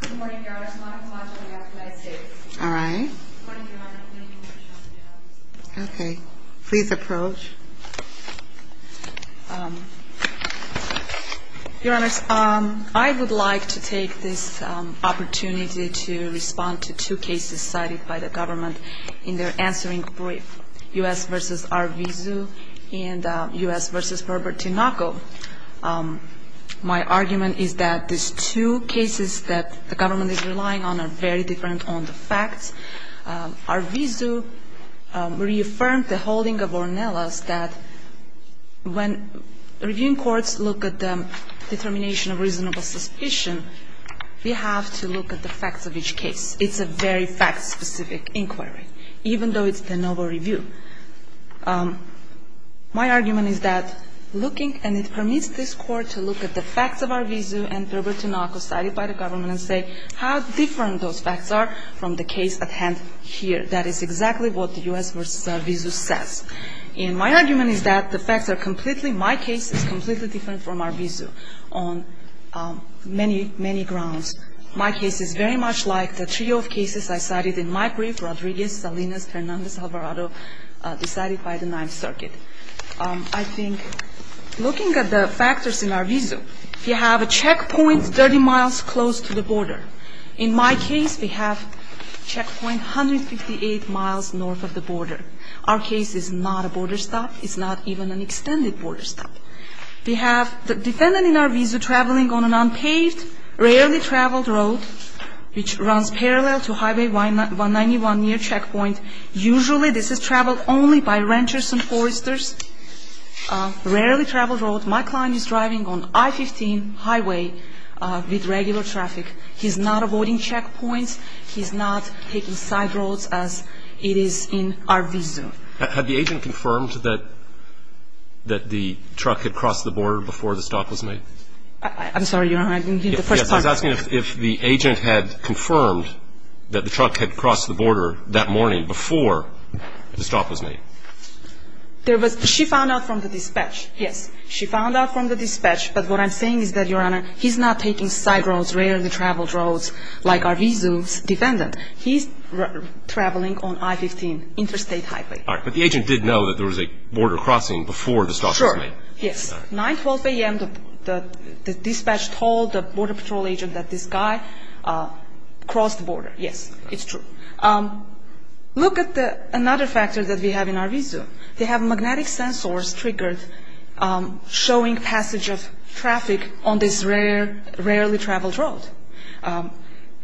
Good morning, Your Honor. I would like to take this opportunity to respond to two cases cited by the government in their answering brief, U.S. v. Arvizu and U.S. v. Herbert Tinoco. My argument is that these two cases that the government is relying on are very different on the facts. Arvizu reaffirmed the holding of Ornella's that when reviewing courts look at the determination of reasonable suspicion, we have to look at the facts of each case. It's a very fact-specific inquiry, even though it's the Novo review. My argument is that looking, and it permits this Court to look at the facts of Arvizu and Herbert Tinoco cited by the government and say how different those facts are from the case at hand here. That is exactly what the U.S. v. Arvizu says. And my argument is that the facts are completely, my case is completely different from Arvizu on many, many grounds. My case is very much like the trio of cases I cited in my brief, Rodriguez, Salinas, Hernandez, Alvarado, decided by the Ninth Circuit. I think looking at the factors in Arvizu, you have a checkpoint 30 miles close to the border. In my case, we have checkpoint 158 miles north of the border. Our case is not a border stop. It's not even an extended border stop. We have the defendant in Arvizu traveling on an unpaved, rarely-traveled road which runs parallel to Highway 191 near checkpoint. Usually this is traveled only by ranchers and foresters, rarely-traveled road. My client is driving on I-15 highway with regular traffic. He's not avoiding checkpoints. He's not taking side roads as it is in Arvizu. Have the agent confirmed that the truck had crossed the border before the stop was made? I'm sorry, Your Honor. I didn't hear the first part. Yes. I was asking if the agent had confirmed that the truck had crossed the border that morning before the stop was made. There was – she found out from the dispatch. Yes. She found out from the dispatch. But what I'm saying is that, Your Honor, he's not taking side roads, rarely-traveled roads like Arvizu's defendant. He's traveling on I-15 interstate highway. All right. But the agent did know that there was a border crossing before the stop was made. Sure. Yes. 9, 12 a.m., the dispatch told the Border Patrol agent that this guy crossed the border. Yes. It's true. Look at another factor that we have in Arvizu. They have magnetic sensors triggered showing passage of traffic on this rarely-traveled road.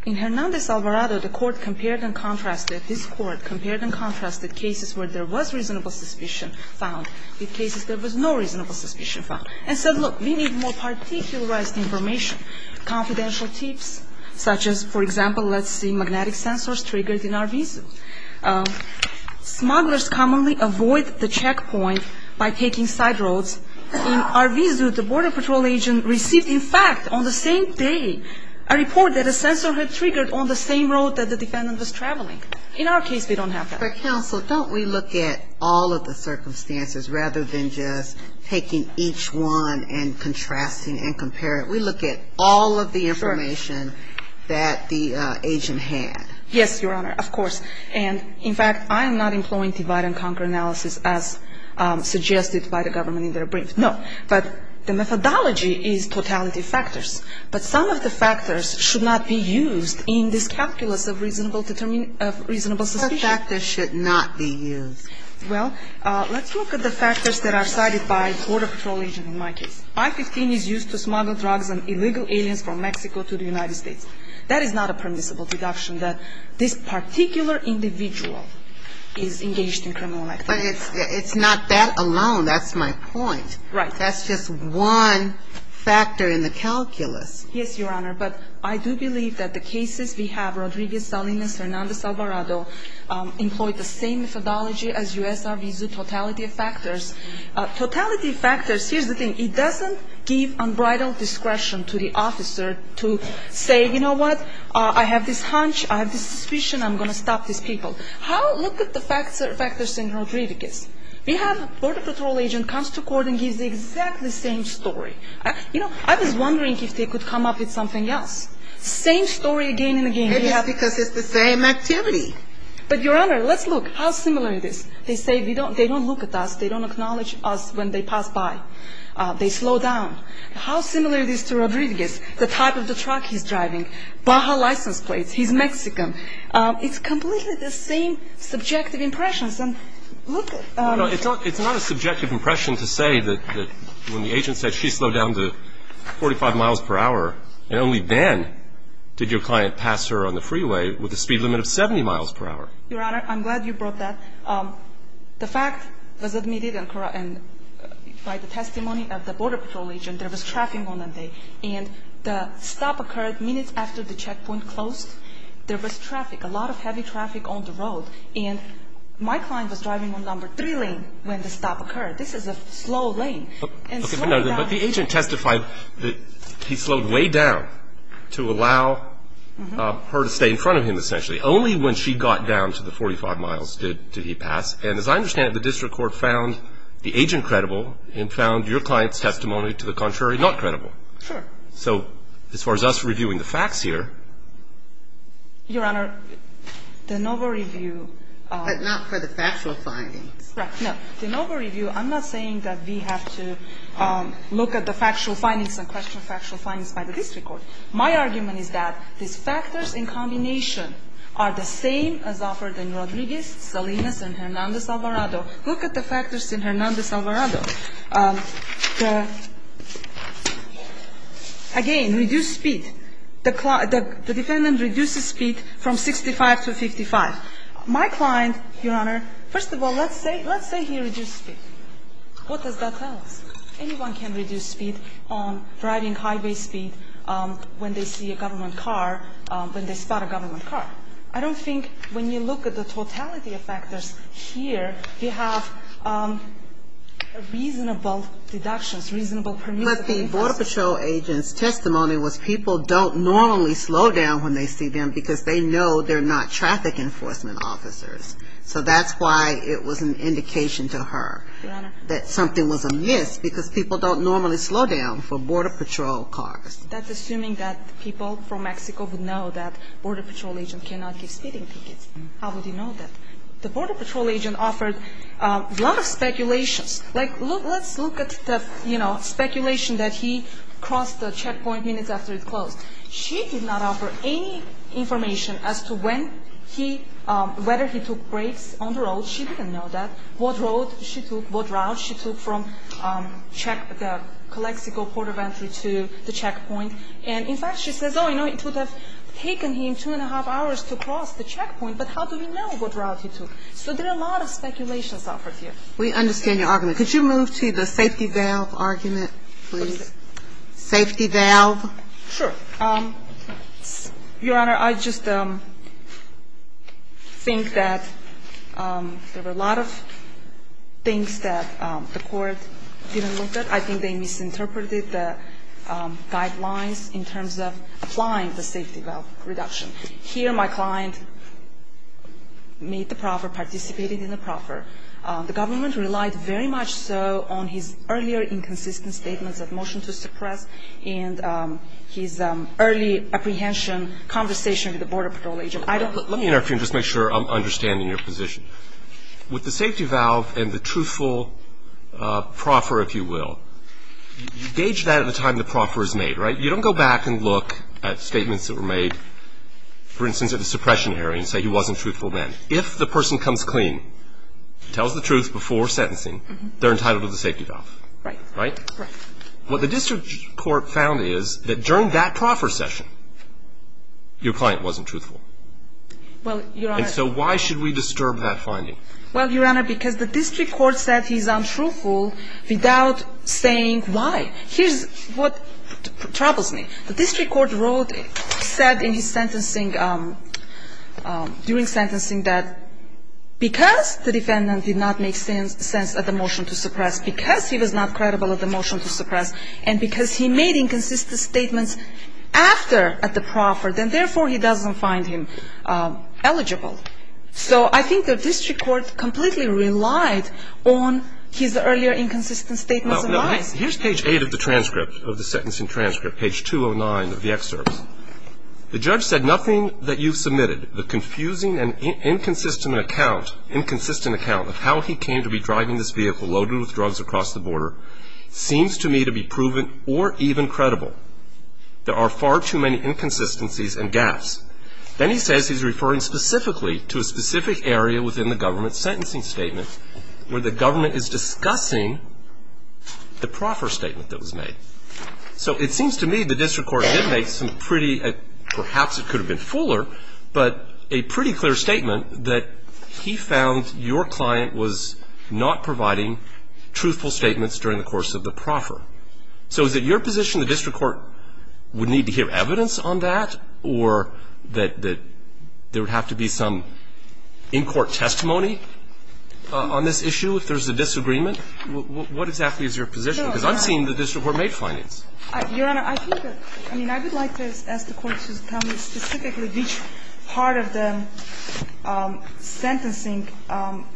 In Hernandez-Alvarado, the court compared and contrasted – this court compared and contrasted cases where there was reasonable suspicion found with cases there was no reasonable suspicion found and said, look, we need more particularized information, confidential tips, such as, for example, let's see, magnetic sensors triggered in Arvizu. Smugglers commonly avoid the checkpoint by taking side roads. In Arvizu, the Border Patrol agent received, in fact, on the same day, a report that a sensor had triggered on the same road that the defendant was traveling. In our case, we don't have that. But, counsel, don't we look at all of the circumstances rather than just taking each one and contrasting and comparing? We look at all of the information that the agent had. Yes, Your Honor, of course. And, in fact, I am not employing divide-and-conquer analysis as suggested by the government in their brief. No. But the methodology is totality of factors. But some of the factors should not be used in this calculus of reasonable suspicion. What factors should not be used? Well, let's look at the factors that are cited by the Border Patrol agent in my case. I-15 is used to smuggle drugs and illegal aliens from Mexico to the United States. That is not a permissible deduction that this particular individual is engaged in criminal activity. But it's not that alone. That's my point. Right. That's just one factor in the calculus. Yes, Your Honor. But I do believe that the cases we have, Rodriguez-Salinas, Hernandez-Alvarado, employ the same methodology as U.S. Arvizu, totality of factors. Totality of factors, here's the thing. It doesn't give unbridled discretion to the officer to say, you know what, I have this hunch, I have this suspicion, I'm going to stop these people. Look at the factors in Rodriguez. We have Border Patrol agent comes to court and gives the exactly same story. You know, I was wondering if they could come up with something else. Same story again and again. Maybe it's because it's the same activity. But, Your Honor, let's look how similar it is. They say they don't look at us, they don't acknowledge us when they pass by. They slow down. How similar it is to Rodriguez. The type of the truck he's driving. Baja license plates. He's Mexican. It's completely the same subjective impressions. And look at the ---- No, no, it's not a subjective impression to say that when the agent said she slowed down to 45 miles per hour and only then did your client pass her on the freeway with a speed limit of 70 miles per hour. Your Honor, I'm glad you brought that. The fact was admitted and by the testimony of the Border Patrol agent, there was traffic on that day. And the stop occurred minutes after the checkpoint closed. There was traffic, a lot of heavy traffic on the road. And my client was driving on number three lane when the stop occurred. This is a slow lane. But the agent testified that he slowed way down to allow her to stay in front of him essentially. Only when she got down to the 45 miles did he pass. And as I understand it, the district court found the agent credible and found your client's testimony to the contrary not credible. Sure. So as far as us reviewing the facts here. Your Honor, the NOVA review ---- But not for the factual findings. Correct. No, the NOVA review, I'm not saying that we have to look at the factual findings and question factual findings by the district court. My argument is that these factors in combination are the same as offered in Rodriguez, Salinas, and Hernandez-Alvarado. Look at the factors in Hernandez-Alvarado. Again, reduced speed. The defendant reduced speed from 65 to 55. My client, Your Honor, first of all, let's say he reduced speed. What does that tell us? Anyone can reduce speed on riding highway speed when they see a government car, when they spot a government car. I don't think when you look at the totality of factors here, you have reasonable deductions, reasonable permissible deductions. But the border patrol agent's testimony was people don't normally slow down when they see them because they know they're not traffic enforcement officers. So that's why it was an indication to her that something was amiss because people don't normally slow down for border patrol cars. That's assuming that people from Mexico would know that border patrol agent cannot give speeding tickets. How would he know that? The border patrol agent offered a lot of speculations. Like, let's look at the, you know, speculation that he crossed the checkpoint minutes after it closed. She did not offer any information as to when he, whether he took breaks on the road. She didn't know that. What road she took, what route she took from check, the Calexico port of entry to the checkpoint. And, in fact, she says, oh, you know, it would have taken him two and a half hours to cross the checkpoint, but how do we know what route he took? So there are a lot of speculations offered here. We understand your argument. Could you move to the safety valve argument, please? What is it? Safety valve. Sure. Your Honor, I just think that there were a lot of things that the court didn't look at. I think they misinterpreted the guidelines in terms of applying the safety valve reduction. Here my client made the proffer, participated in the proffer. The government relied very much so on his earlier inconsistent statements of motion to suppress and his early apprehension conversation with the Border Patrol agent. I don't know. Let me interfere and just make sure I'm understanding your position. With the safety valve and the truthful proffer, if you will, you gauge that at the time the proffer is made, right? You don't go back and look at statements that were made, for instance, at the suppression hearing and say he wasn't truthful then. If the person comes clean, tells the truth before sentencing, they're entitled to the safety valve. Right. Right. What the district court found is that during that proffer session, your client wasn't truthful. Well, Your Honor. And so why should we disturb that finding? Well, Your Honor, because the district court said he's untruthful without saying why. Here's what troubles me. The district court wrote, said in his sentencing, during sentencing that because the defendant did not make sense at the motion to suppress, because he was not credible at the motion to suppress, and because he made inconsistent statements after at the proffer, then therefore he doesn't find him eligible. So I think the district court completely relied on his earlier inconsistent statements of lies. Here's page 8 of the transcript, of the sentencing transcript, page 209 of the excerpt. The judge said, nothing that you've submitted, the confusing and inconsistent account, inconsistent account, of how he came to be driving this vehicle loaded with drugs across the border, seems to me to be proven or even credible. There are far too many inconsistencies and gaps. Then he says he's referring specifically to a specific area within the government's sentencing statement, where the government is discussing the proffer statement that was made. So it seems to me the district court did make some pretty, perhaps it could have been fuller, but a pretty clear statement that he found your client was not providing truthful statements during the course of the proffer. So is it your position the district court would need to hear evidence on that, or that there would have to be some in-court testimony on this issue if there's a disagreement? What exactly is your position? Because I'm seeing the district court made findings. Your Honor, I think that, I mean, I would like to ask the Court to tell me specifically which part of the sentencing,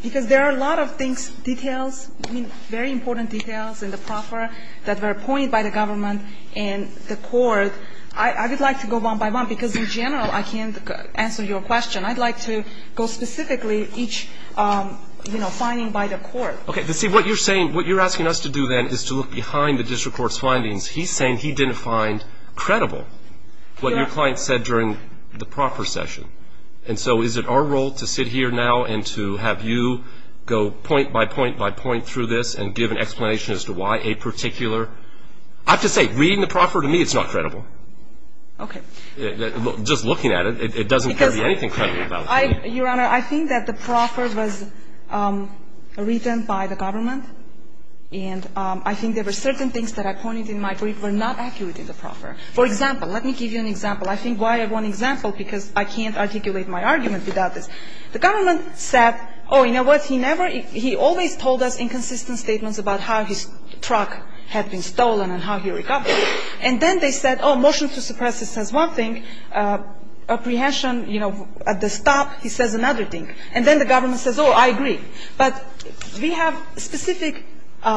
because there are a lot of things, details, very important details in the proffer that were appointed by the government and the Court. I would like to go one by one, because in general I can't answer your question. I'd like to go specifically each, you know, finding by the Court. Okay. See, what you're saying, what you're asking us to do, then, is to look behind the district court's findings. He's saying he didn't find credible what your client said during the proffer session. And so is it our role to sit here now and to have you go point by point by point through this and give an explanation as to why a particular – I have to say, reading the proffer to me, it's not credible. Okay. Your Honor, I think that the proffer was written by the government. And I think there were certain things that I pointed in my brief were not accurate in the proffer. For example, let me give you an example. I think why I want an example, because I can't articulate my argument without this. The government said, oh, you know what, he never – he always told us inconsistent statements about how his truck had been stolen and how he recovered. And then they said, oh, motion to suppress this says one thing. Apprehension, you know, at the stop, he says another thing. And then the government says, oh, I agree. But we have specific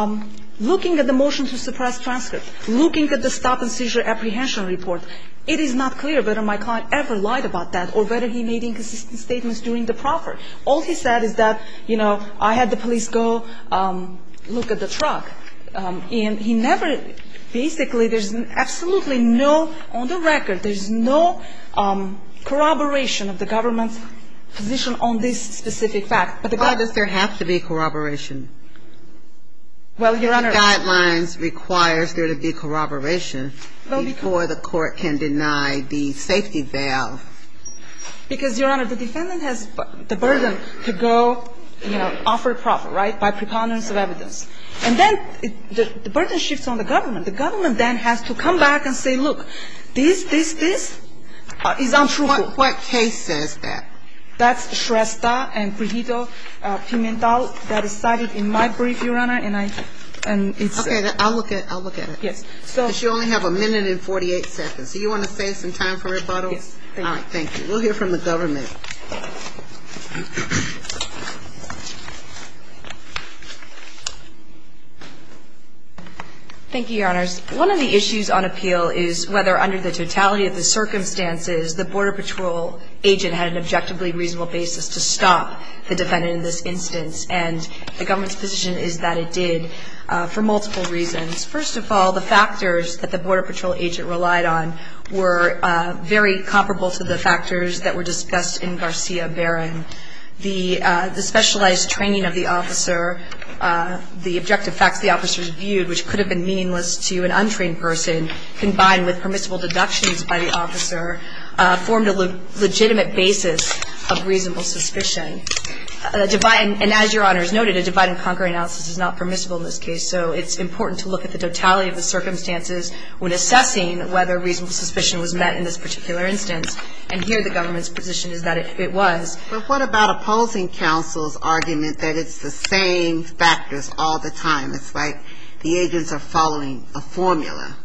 – looking at the motion to suppress transcript, looking at the stop and seizure apprehension report, it is not clear whether my client ever lied about that or whether he made inconsistent statements during the proffer. All he said is that, you know, I had the police go look at the truck. And he never – basically, there's absolutely no – on the record, there's no corroboration of the government's position on this specific fact. But the – Why does there have to be corroboration? Well, Your Honor – The guidelines requires there to be corroboration before the court can deny the safety valve. Because, Your Honor, the defendant has the burden to go, you know, offer a proffer, right, by preponderance of evidence. And then the burden shifts on the government. The government then has to come back and say, look, this, this, this is untruthful. What case says that? That's Shrestha and Pujito Pimentel that is cited in my brief, Your Honor. And I – and it's – Okay. I'll look at it. I'll look at it. Yes. So – Because you only have a minute and 48 seconds. Do you want to save some time for rebuttal? Yes. Thank you. All right. Thank you. We'll hear from the government. Thank you, Your Honors. One of the issues on appeal is whether, under the totality of the circumstances, the Border Patrol agent had an objectively reasonable basis to stop the defendant in this instance. And the government's position is that it did for multiple reasons. First of all, the factors that the Border Patrol agent relied on were very comparable to the factors that were discussed in my brief. The specialized training of the officer, the objective facts the officer reviewed, which could have been meaningless to an untrained person, combined with permissible deductions by the officer, formed a legitimate basis of reasonable suspicion. And as Your Honor has noted, a divide-and-conquer analysis is not permissible in this case. So it's important to look at the totality of the circumstances when assessing whether reasonable suspicion was met in this particular instance. And here the government's position is that it was. But what about opposing counsel's argument that it's the same factors all the time? It's like the agents are following a formula.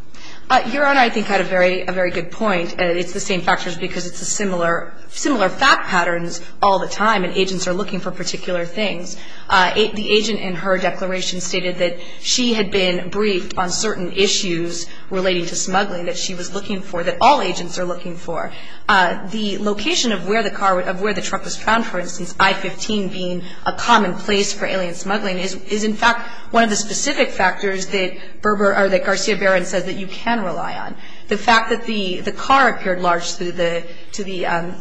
Your Honor, I think, had a very good point. It's the same factors because it's similar fact patterns all the time, and agents are looking for particular things. The agent in her declaration stated that she had been briefed on certain issues relating to smuggling that she was looking for, that all agents are looking for. The location of where the car, of where the truck was found, for instance, I-15 being a common place for alien smuggling, is in fact one of the specific factors that Berber or that Garcia-Baron says that you can rely on. The fact that the car appeared large to the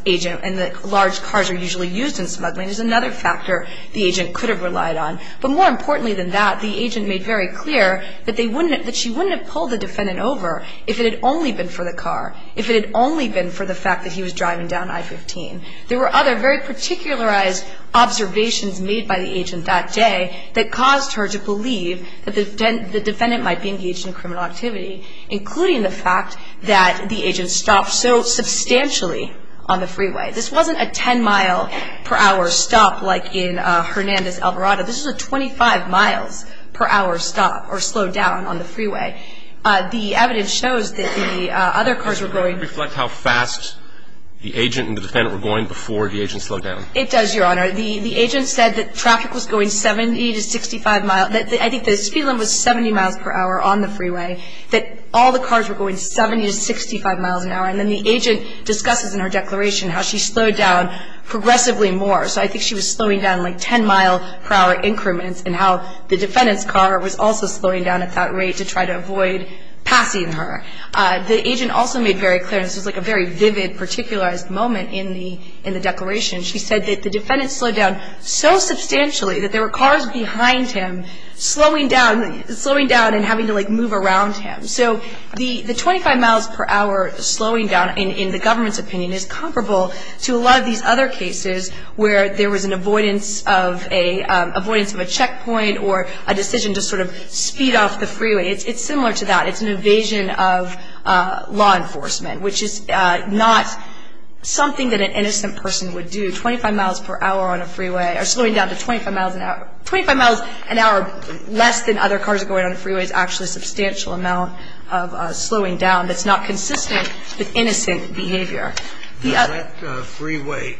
agent and that large cars are usually used in smuggling is another factor the agent could have relied on. But more importantly than that, the agent made very clear that they wouldn't have, that she wouldn't have pulled the defendant over if it had only been for the car, if it had only been for the fact that he was driving down I-15. There were other very particularized observations made by the agent that day that caused her to believe that the defendant might be engaged in criminal activity, including the fact that the agent stopped so substantially on the freeway. This wasn't a 10-mile-per-hour stop like in Hernandez-El Dorado. This was a 25-miles-per-hour stop or slowdown on the freeway. The evidence shows that the other cars were going. Reflect how fast the agent and the defendant were going before the agent slowed down. It does, Your Honor. The agent said that traffic was going 70 to 65 miles. I think the speed limit was 70 miles per hour on the freeway, that all the cars were going 70 to 65 miles an hour. And then the agent discusses in her declaration how she slowed down progressively more. So I think she was slowing down like 10-mile-per-hour increments and how the defendant's car was also slowing down at that rate to try to avoid passing her. The agent also made very clear, and this was like a very vivid particularized moment in the declaration, she said that the defendant slowed down so substantially that there were cars behind him slowing down and having to, like, move around him. So the 25 miles per hour slowing down, in the government's opinion, is comparable to a lot of these other cases where there was an avoidance of a checkpoint or a decision to sort of speed off the freeway. It's similar to that. It's an evasion of law enforcement, which is not something that an innocent person would do, 25 miles per hour on a freeway or slowing down to 25 miles an hour. 25 miles an hour less than other cars are going on the freeway is actually a substantial amount of slowing down that's not consistent with innocent behavior. That freeway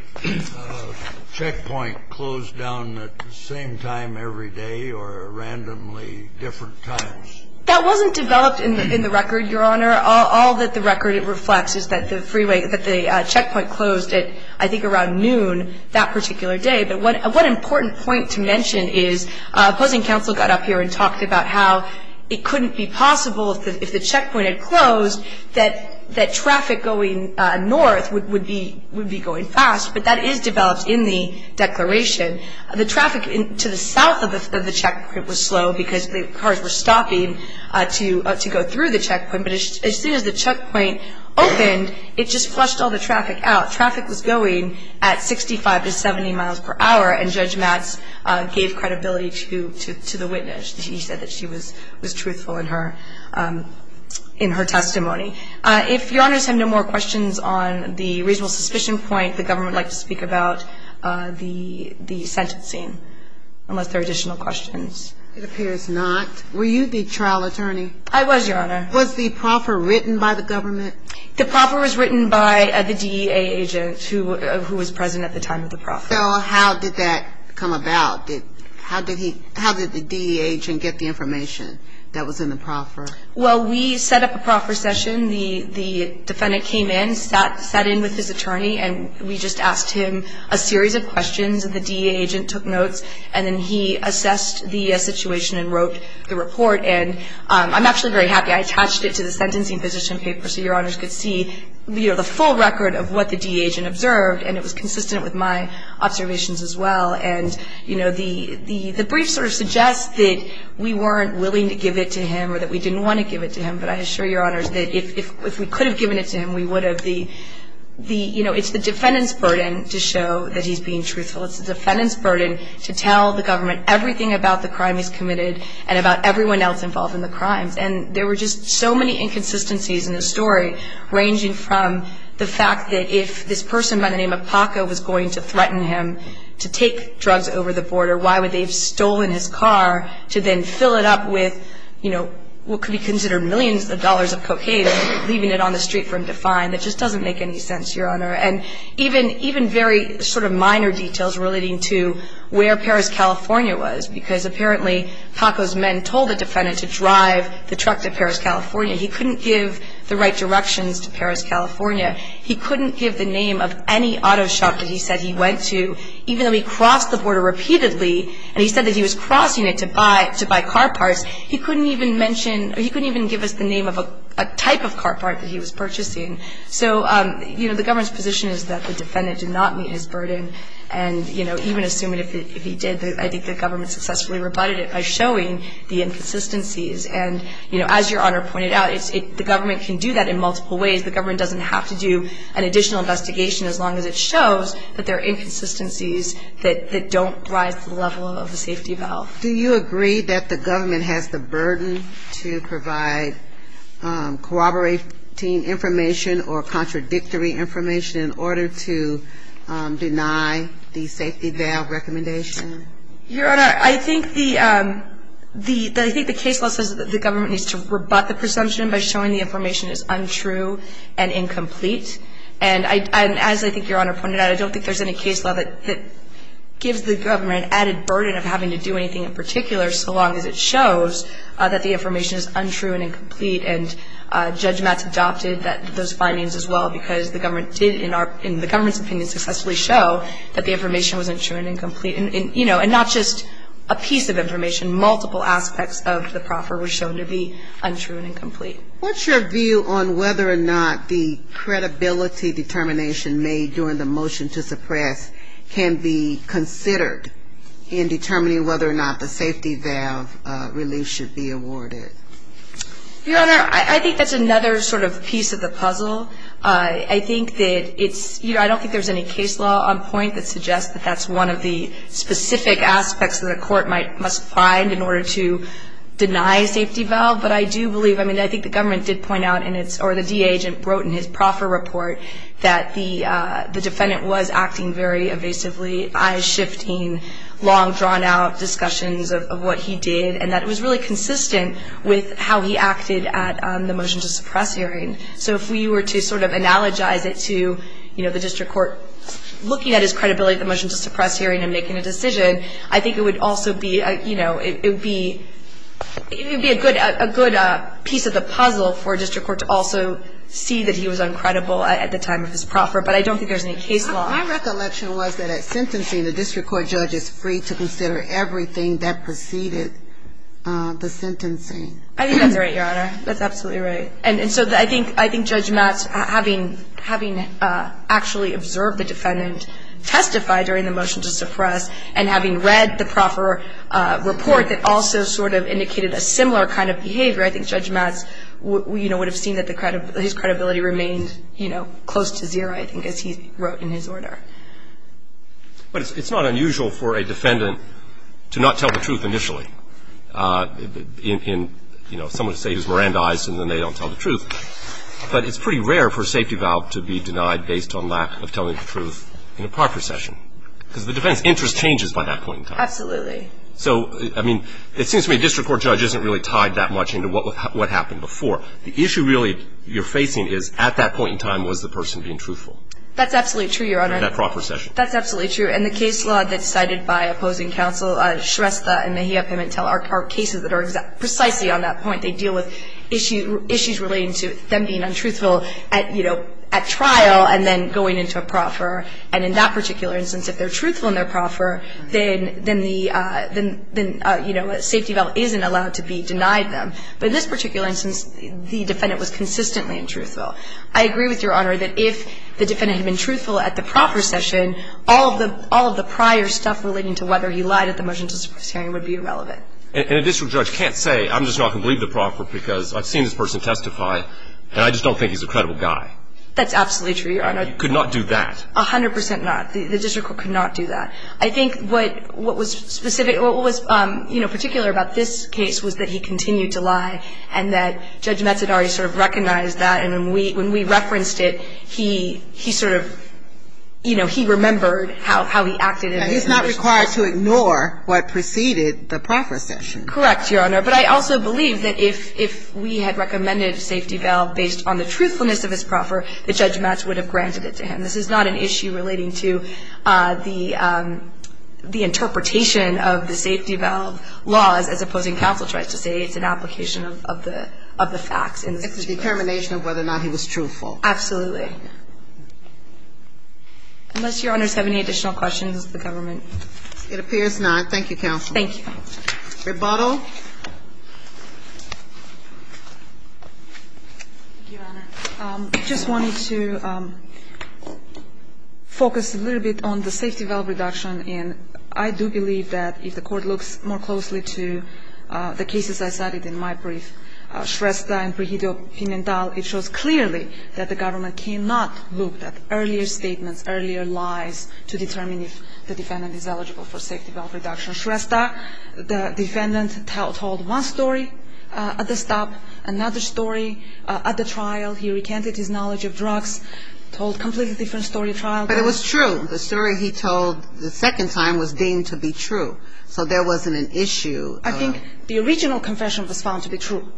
checkpoint closed down at the same time every day or randomly different times? That wasn't developed in the record, Your Honor. All that the record reflects is that the freeway, that the checkpoint closed, I think, around noon that particular day. But what an important point to mention is opposing counsel got up here and talked about how it couldn't be possible if the checkpoint had closed that traffic going north would be going fast. But that is developed in the declaration. The traffic to the south of the checkpoint was slow because the cars were stopping to go through the checkpoint. But as soon as the checkpoint opened, it just flushed all the traffic out. Traffic was going at 65 to 70 miles per hour, and Judge Matz gave credibility to the witness. She said that she was truthful in her testimony. If Your Honors have no more questions on the reasonable suspicion point, the government would like to speak about the sentencing unless there are additional questions. It appears not. Were you the trial attorney? I was, Your Honor. Was the proffer written by the government? The proffer was written by the DEA agent who was present at the time of the proffer. So how did that come about? How did the DEA agent get the information that was in the proffer? Well, we set up a proffer session. The defendant came in, sat in with his attorney, and we just asked him a series of questions. The DEA agent took notes, and then he assessed the situation and wrote the report. And I'm actually very happy. I attached it to the sentencing position paper so Your Honors could see, you know, the full record of what the DEA agent observed, and it was consistent with my observations as well. And, you know, the brief sort of suggests that we weren't willing to give it to him or that we didn't want to give it to him. But I assure Your Honors that if we could have given it to him, we would have. You know, it's the defendant's burden to show that he's being truthful. It's the defendant's burden to tell the government everything about the crime he's committed and about everyone else involved in the crimes. And there were just so many inconsistencies in the story, ranging from the fact that if this person by the name of Paco was going to threaten him to take drugs over the border, why would they have stolen his car to then fill it up with, you know, what could be considered millions of dollars of cocaine and leaving it on the street for him to find? That just doesn't make any sense, Your Honor. And even very sort of minor details relating to where Paris, California was, because apparently Paco's men told the defendant to drive the truck to Paris, California. He couldn't give the right directions to Paris, California. He couldn't give the name of any auto shop that he said he went to, even though he crossed the border repeatedly. And he said that he was crossing it to buy car parts. He couldn't even mention or he couldn't even give us the name of a type of car part that he was purchasing. So, you know, the government's position is that the defendant did not meet his burden. And, you know, even assuming if he did, I think the government successfully rebutted it by showing the inconsistencies. And, you know, as Your Honor pointed out, the government can do that in multiple ways. The government doesn't have to do an additional investigation as long as it shows that there are inconsistencies that don't rise to the level of the safety valve. Do you agree that the government has the burden to provide corroborating information or contradictory information in order to deny the safety valve recommendation? Your Honor, I think the case law says that the government needs to rebut the presumption by showing the information is untrue. And as I think Your Honor pointed out, I don't think there's any case law that gives the government an added burden of having to do anything in particular so long as it shows that the information is untrue and incomplete. And Judge Matz adopted those findings as well because the government did, in the government's opinion, successfully show that the information was untrue and incomplete. And, you know, and not just a piece of information. Multiple aspects of the proffer were shown to be untrue and incomplete. What's your view on whether or not the credibility determination made during the motion to suppress can be considered in determining whether or not the safety valve relief should be awarded? Your Honor, I think that's another sort of piece of the puzzle. I think that it's, you know, I don't think there's any case law on point that suggests that that's one of the specific aspects that a court must find in order to deny a safety valve. But I do believe, I mean, I think the government did point out in its, or the DA agent wrote in his proffer report that the defendant was acting very evasively, eyeshifting, long, drawn-out discussions of what he did, and that it was really consistent with how he acted at the motion to suppress hearing. So if we were to sort of analogize it to, you know, the district court looking at his credibility at the motion to suppress hearing and making a decision, I think it would also be, you know, it would be, it would be a good piece of the puzzle for a district court to also see that he was uncredible at the time of his proffer. But I don't think there's any case law. My recollection was that at sentencing, the district court judge is free to consider everything that preceded the sentencing. I think that's right, Your Honor. That's absolutely right. And so I think Judge Matz, having actually observed the defendant testify during the motion to suppress and having read the proffer report that also sort of indicated a similar kind of behavior, I think Judge Matz, you know, would have seen that his credibility remained, you know, close to zero, I think, as he wrote in his order. But it's not unusual for a defendant to not tell the truth initially. In, you know, someone would say he was Mirandized, and then they don't tell the truth. But it's pretty rare for a safety valve to be denied based on lack of telling the truth in a proffer session. Because the defendant's interest changes by that point in time. Absolutely. So, I mean, it seems to me a district court judge isn't really tied that much into what happened before. The issue really you're facing is at that point in time was the person being truthful. That's absolutely true, Your Honor. In that proffer session. That's absolutely true. And the case law that's cited by opposing counsel, Shrestha and Mejia Pimentel, are cases that are precisely on that point. They deal with issues relating to them being untruthful at, you know, at trial and then going into a proffer. And in that particular instance, if they're truthful in their proffer, then the, you know, a safety valve isn't allowed to be denied them. But in this particular instance, the defendant was consistently untruthful. I agree with Your Honor that if the defendant had been truthful at the proffer session, all of the prior stuff relating to whether he lied at the motion to this hearing would be irrelevant. And a district judge can't say I'm just not going to believe the proffer because I've seen this person testify, and I just don't think he's a credible guy. That's absolutely true, Your Honor. He could not do that. A hundred percent not. The district court could not do that. I think what was specific or what was, you know, particular about this case was that he continued to lie and that Judge Metz had already sort of recognized that. And when we referenced it, he sort of, you know, he remembered how he acted. And he's not required to ignore what preceded the proffer session. Correct, Your Honor. But I also believe that if we had recommended a safety valve based on the truthfulness of his proffer, that Judge Metz would have granted it to him. And this is not an issue relating to the interpretation of the safety valve laws, as opposing counsel tries to say. It's an application of the facts. It's a determination of whether or not he was truthful. Absolutely. Unless Your Honors have any additional questions of the government. It appears not. Thank you, counsel. Thank you. Rebuttal. Thank you, Your Honor. I just wanted to focus a little bit on the safety valve reduction. And I do believe that if the Court looks more closely to the cases I cited in my brief, Shrestha and Prihito-Finental, it shows clearly that the government cannot look at earlier statements, earlier lies to determine if the defendant is eligible for safety valve reduction. The defendant told one story at the stop, another story at the trial. He recanted his knowledge of drugs. Told a completely different story at trial. But it was true. The story he told the second time was deemed to be true. So there wasn't an issue. I think the original confession was found to be true.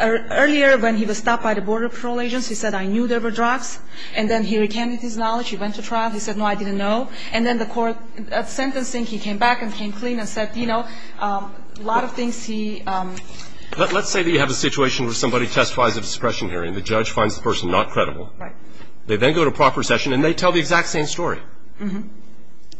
Earlier when he was stopped by the Border Patrol agents, he said, I knew there were drugs. And then he recanted his knowledge. He went to trial. He said, no, I didn't know. And then the Court, at sentencing, he came back and came clean and said, you know, a lot of things he... Let's say that you have a situation where somebody testifies at a suppression hearing. The judge finds the person not credible. Right. They then go to proper session, and they tell the exact same story. Mm-hmm.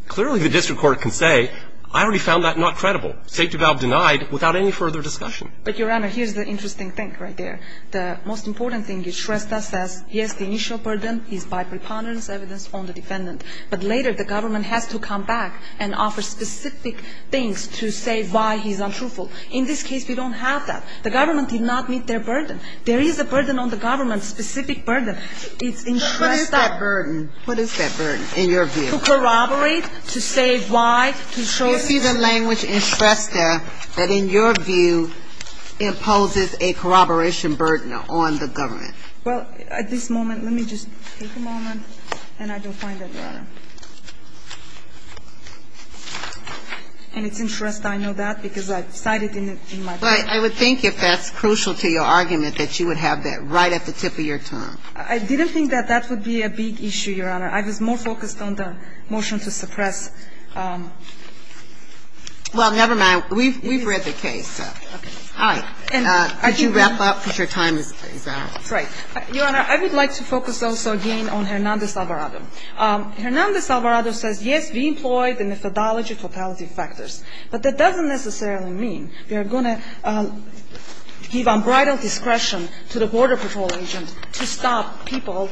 Clearly, the district court can say, I already found that not credible. Safety valve denied without any further discussion. But, Your Honor, here's the interesting thing right there. The most important thing is Shrestha says, yes, the initial burden is by preponderance evidence on the defendant. But later, the government has to come back and offer specific things to say why he's untruthful. In this case, we don't have that. The government did not meet their burden. There is a burden on the government, specific burden. It's in Shrestha. But what is that burden? What is that burden in your view? To corroborate, to say why, to show... You see the language in Shrestha that, in your view, imposes a corroboration burden on the government. Well, at this moment, let me just take a moment. And I don't find that, Your Honor. In its interest, I know that, because I've cited in my book. But I would think, if that's crucial to your argument, that you would have that right at the tip of your tongue. I didn't think that that would be a big issue, Your Honor. I was more focused on the motion to suppress. Well, never mind. We've read the case. Okay. All right. Could you wrap up, because your time is out. That's right. Your Honor, I would like to focus also again on Hernández-Alvarado. Hernández-Alvarado says, yes, we employ the methodology of fatality factors. But that doesn't necessarily mean we are going to give unbridled discretion to the Border Patrol agent to stop people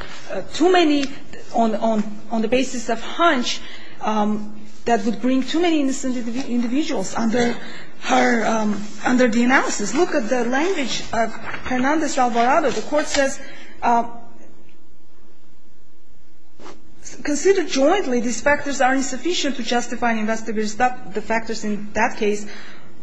too many on the basis of hunch that would bring too many individuals under her, under the analysis. Look at the language of Hernández-Alvarado. The Court says, consider jointly these factors are insufficient to justify and investigate the factors in that case.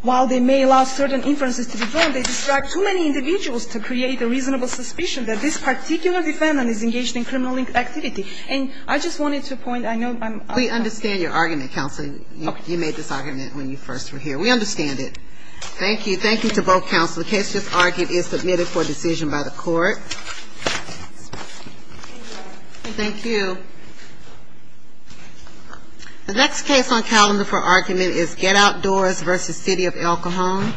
While they may allow certain inferences to be drawn, they describe too many individuals to create a reasonable suspicion that this particular defendant is engaged in criminal activity. And I just wanted to point, I know I'm out of time. We understand your argument, counsel. You made this argument when you first were here. We understand it. Thank you. Thank you to both counsel. The case just argued is submitted for decision by the Court. Thank you. The next case on calendar for argument is Get Outdoors v. City of Alcohol.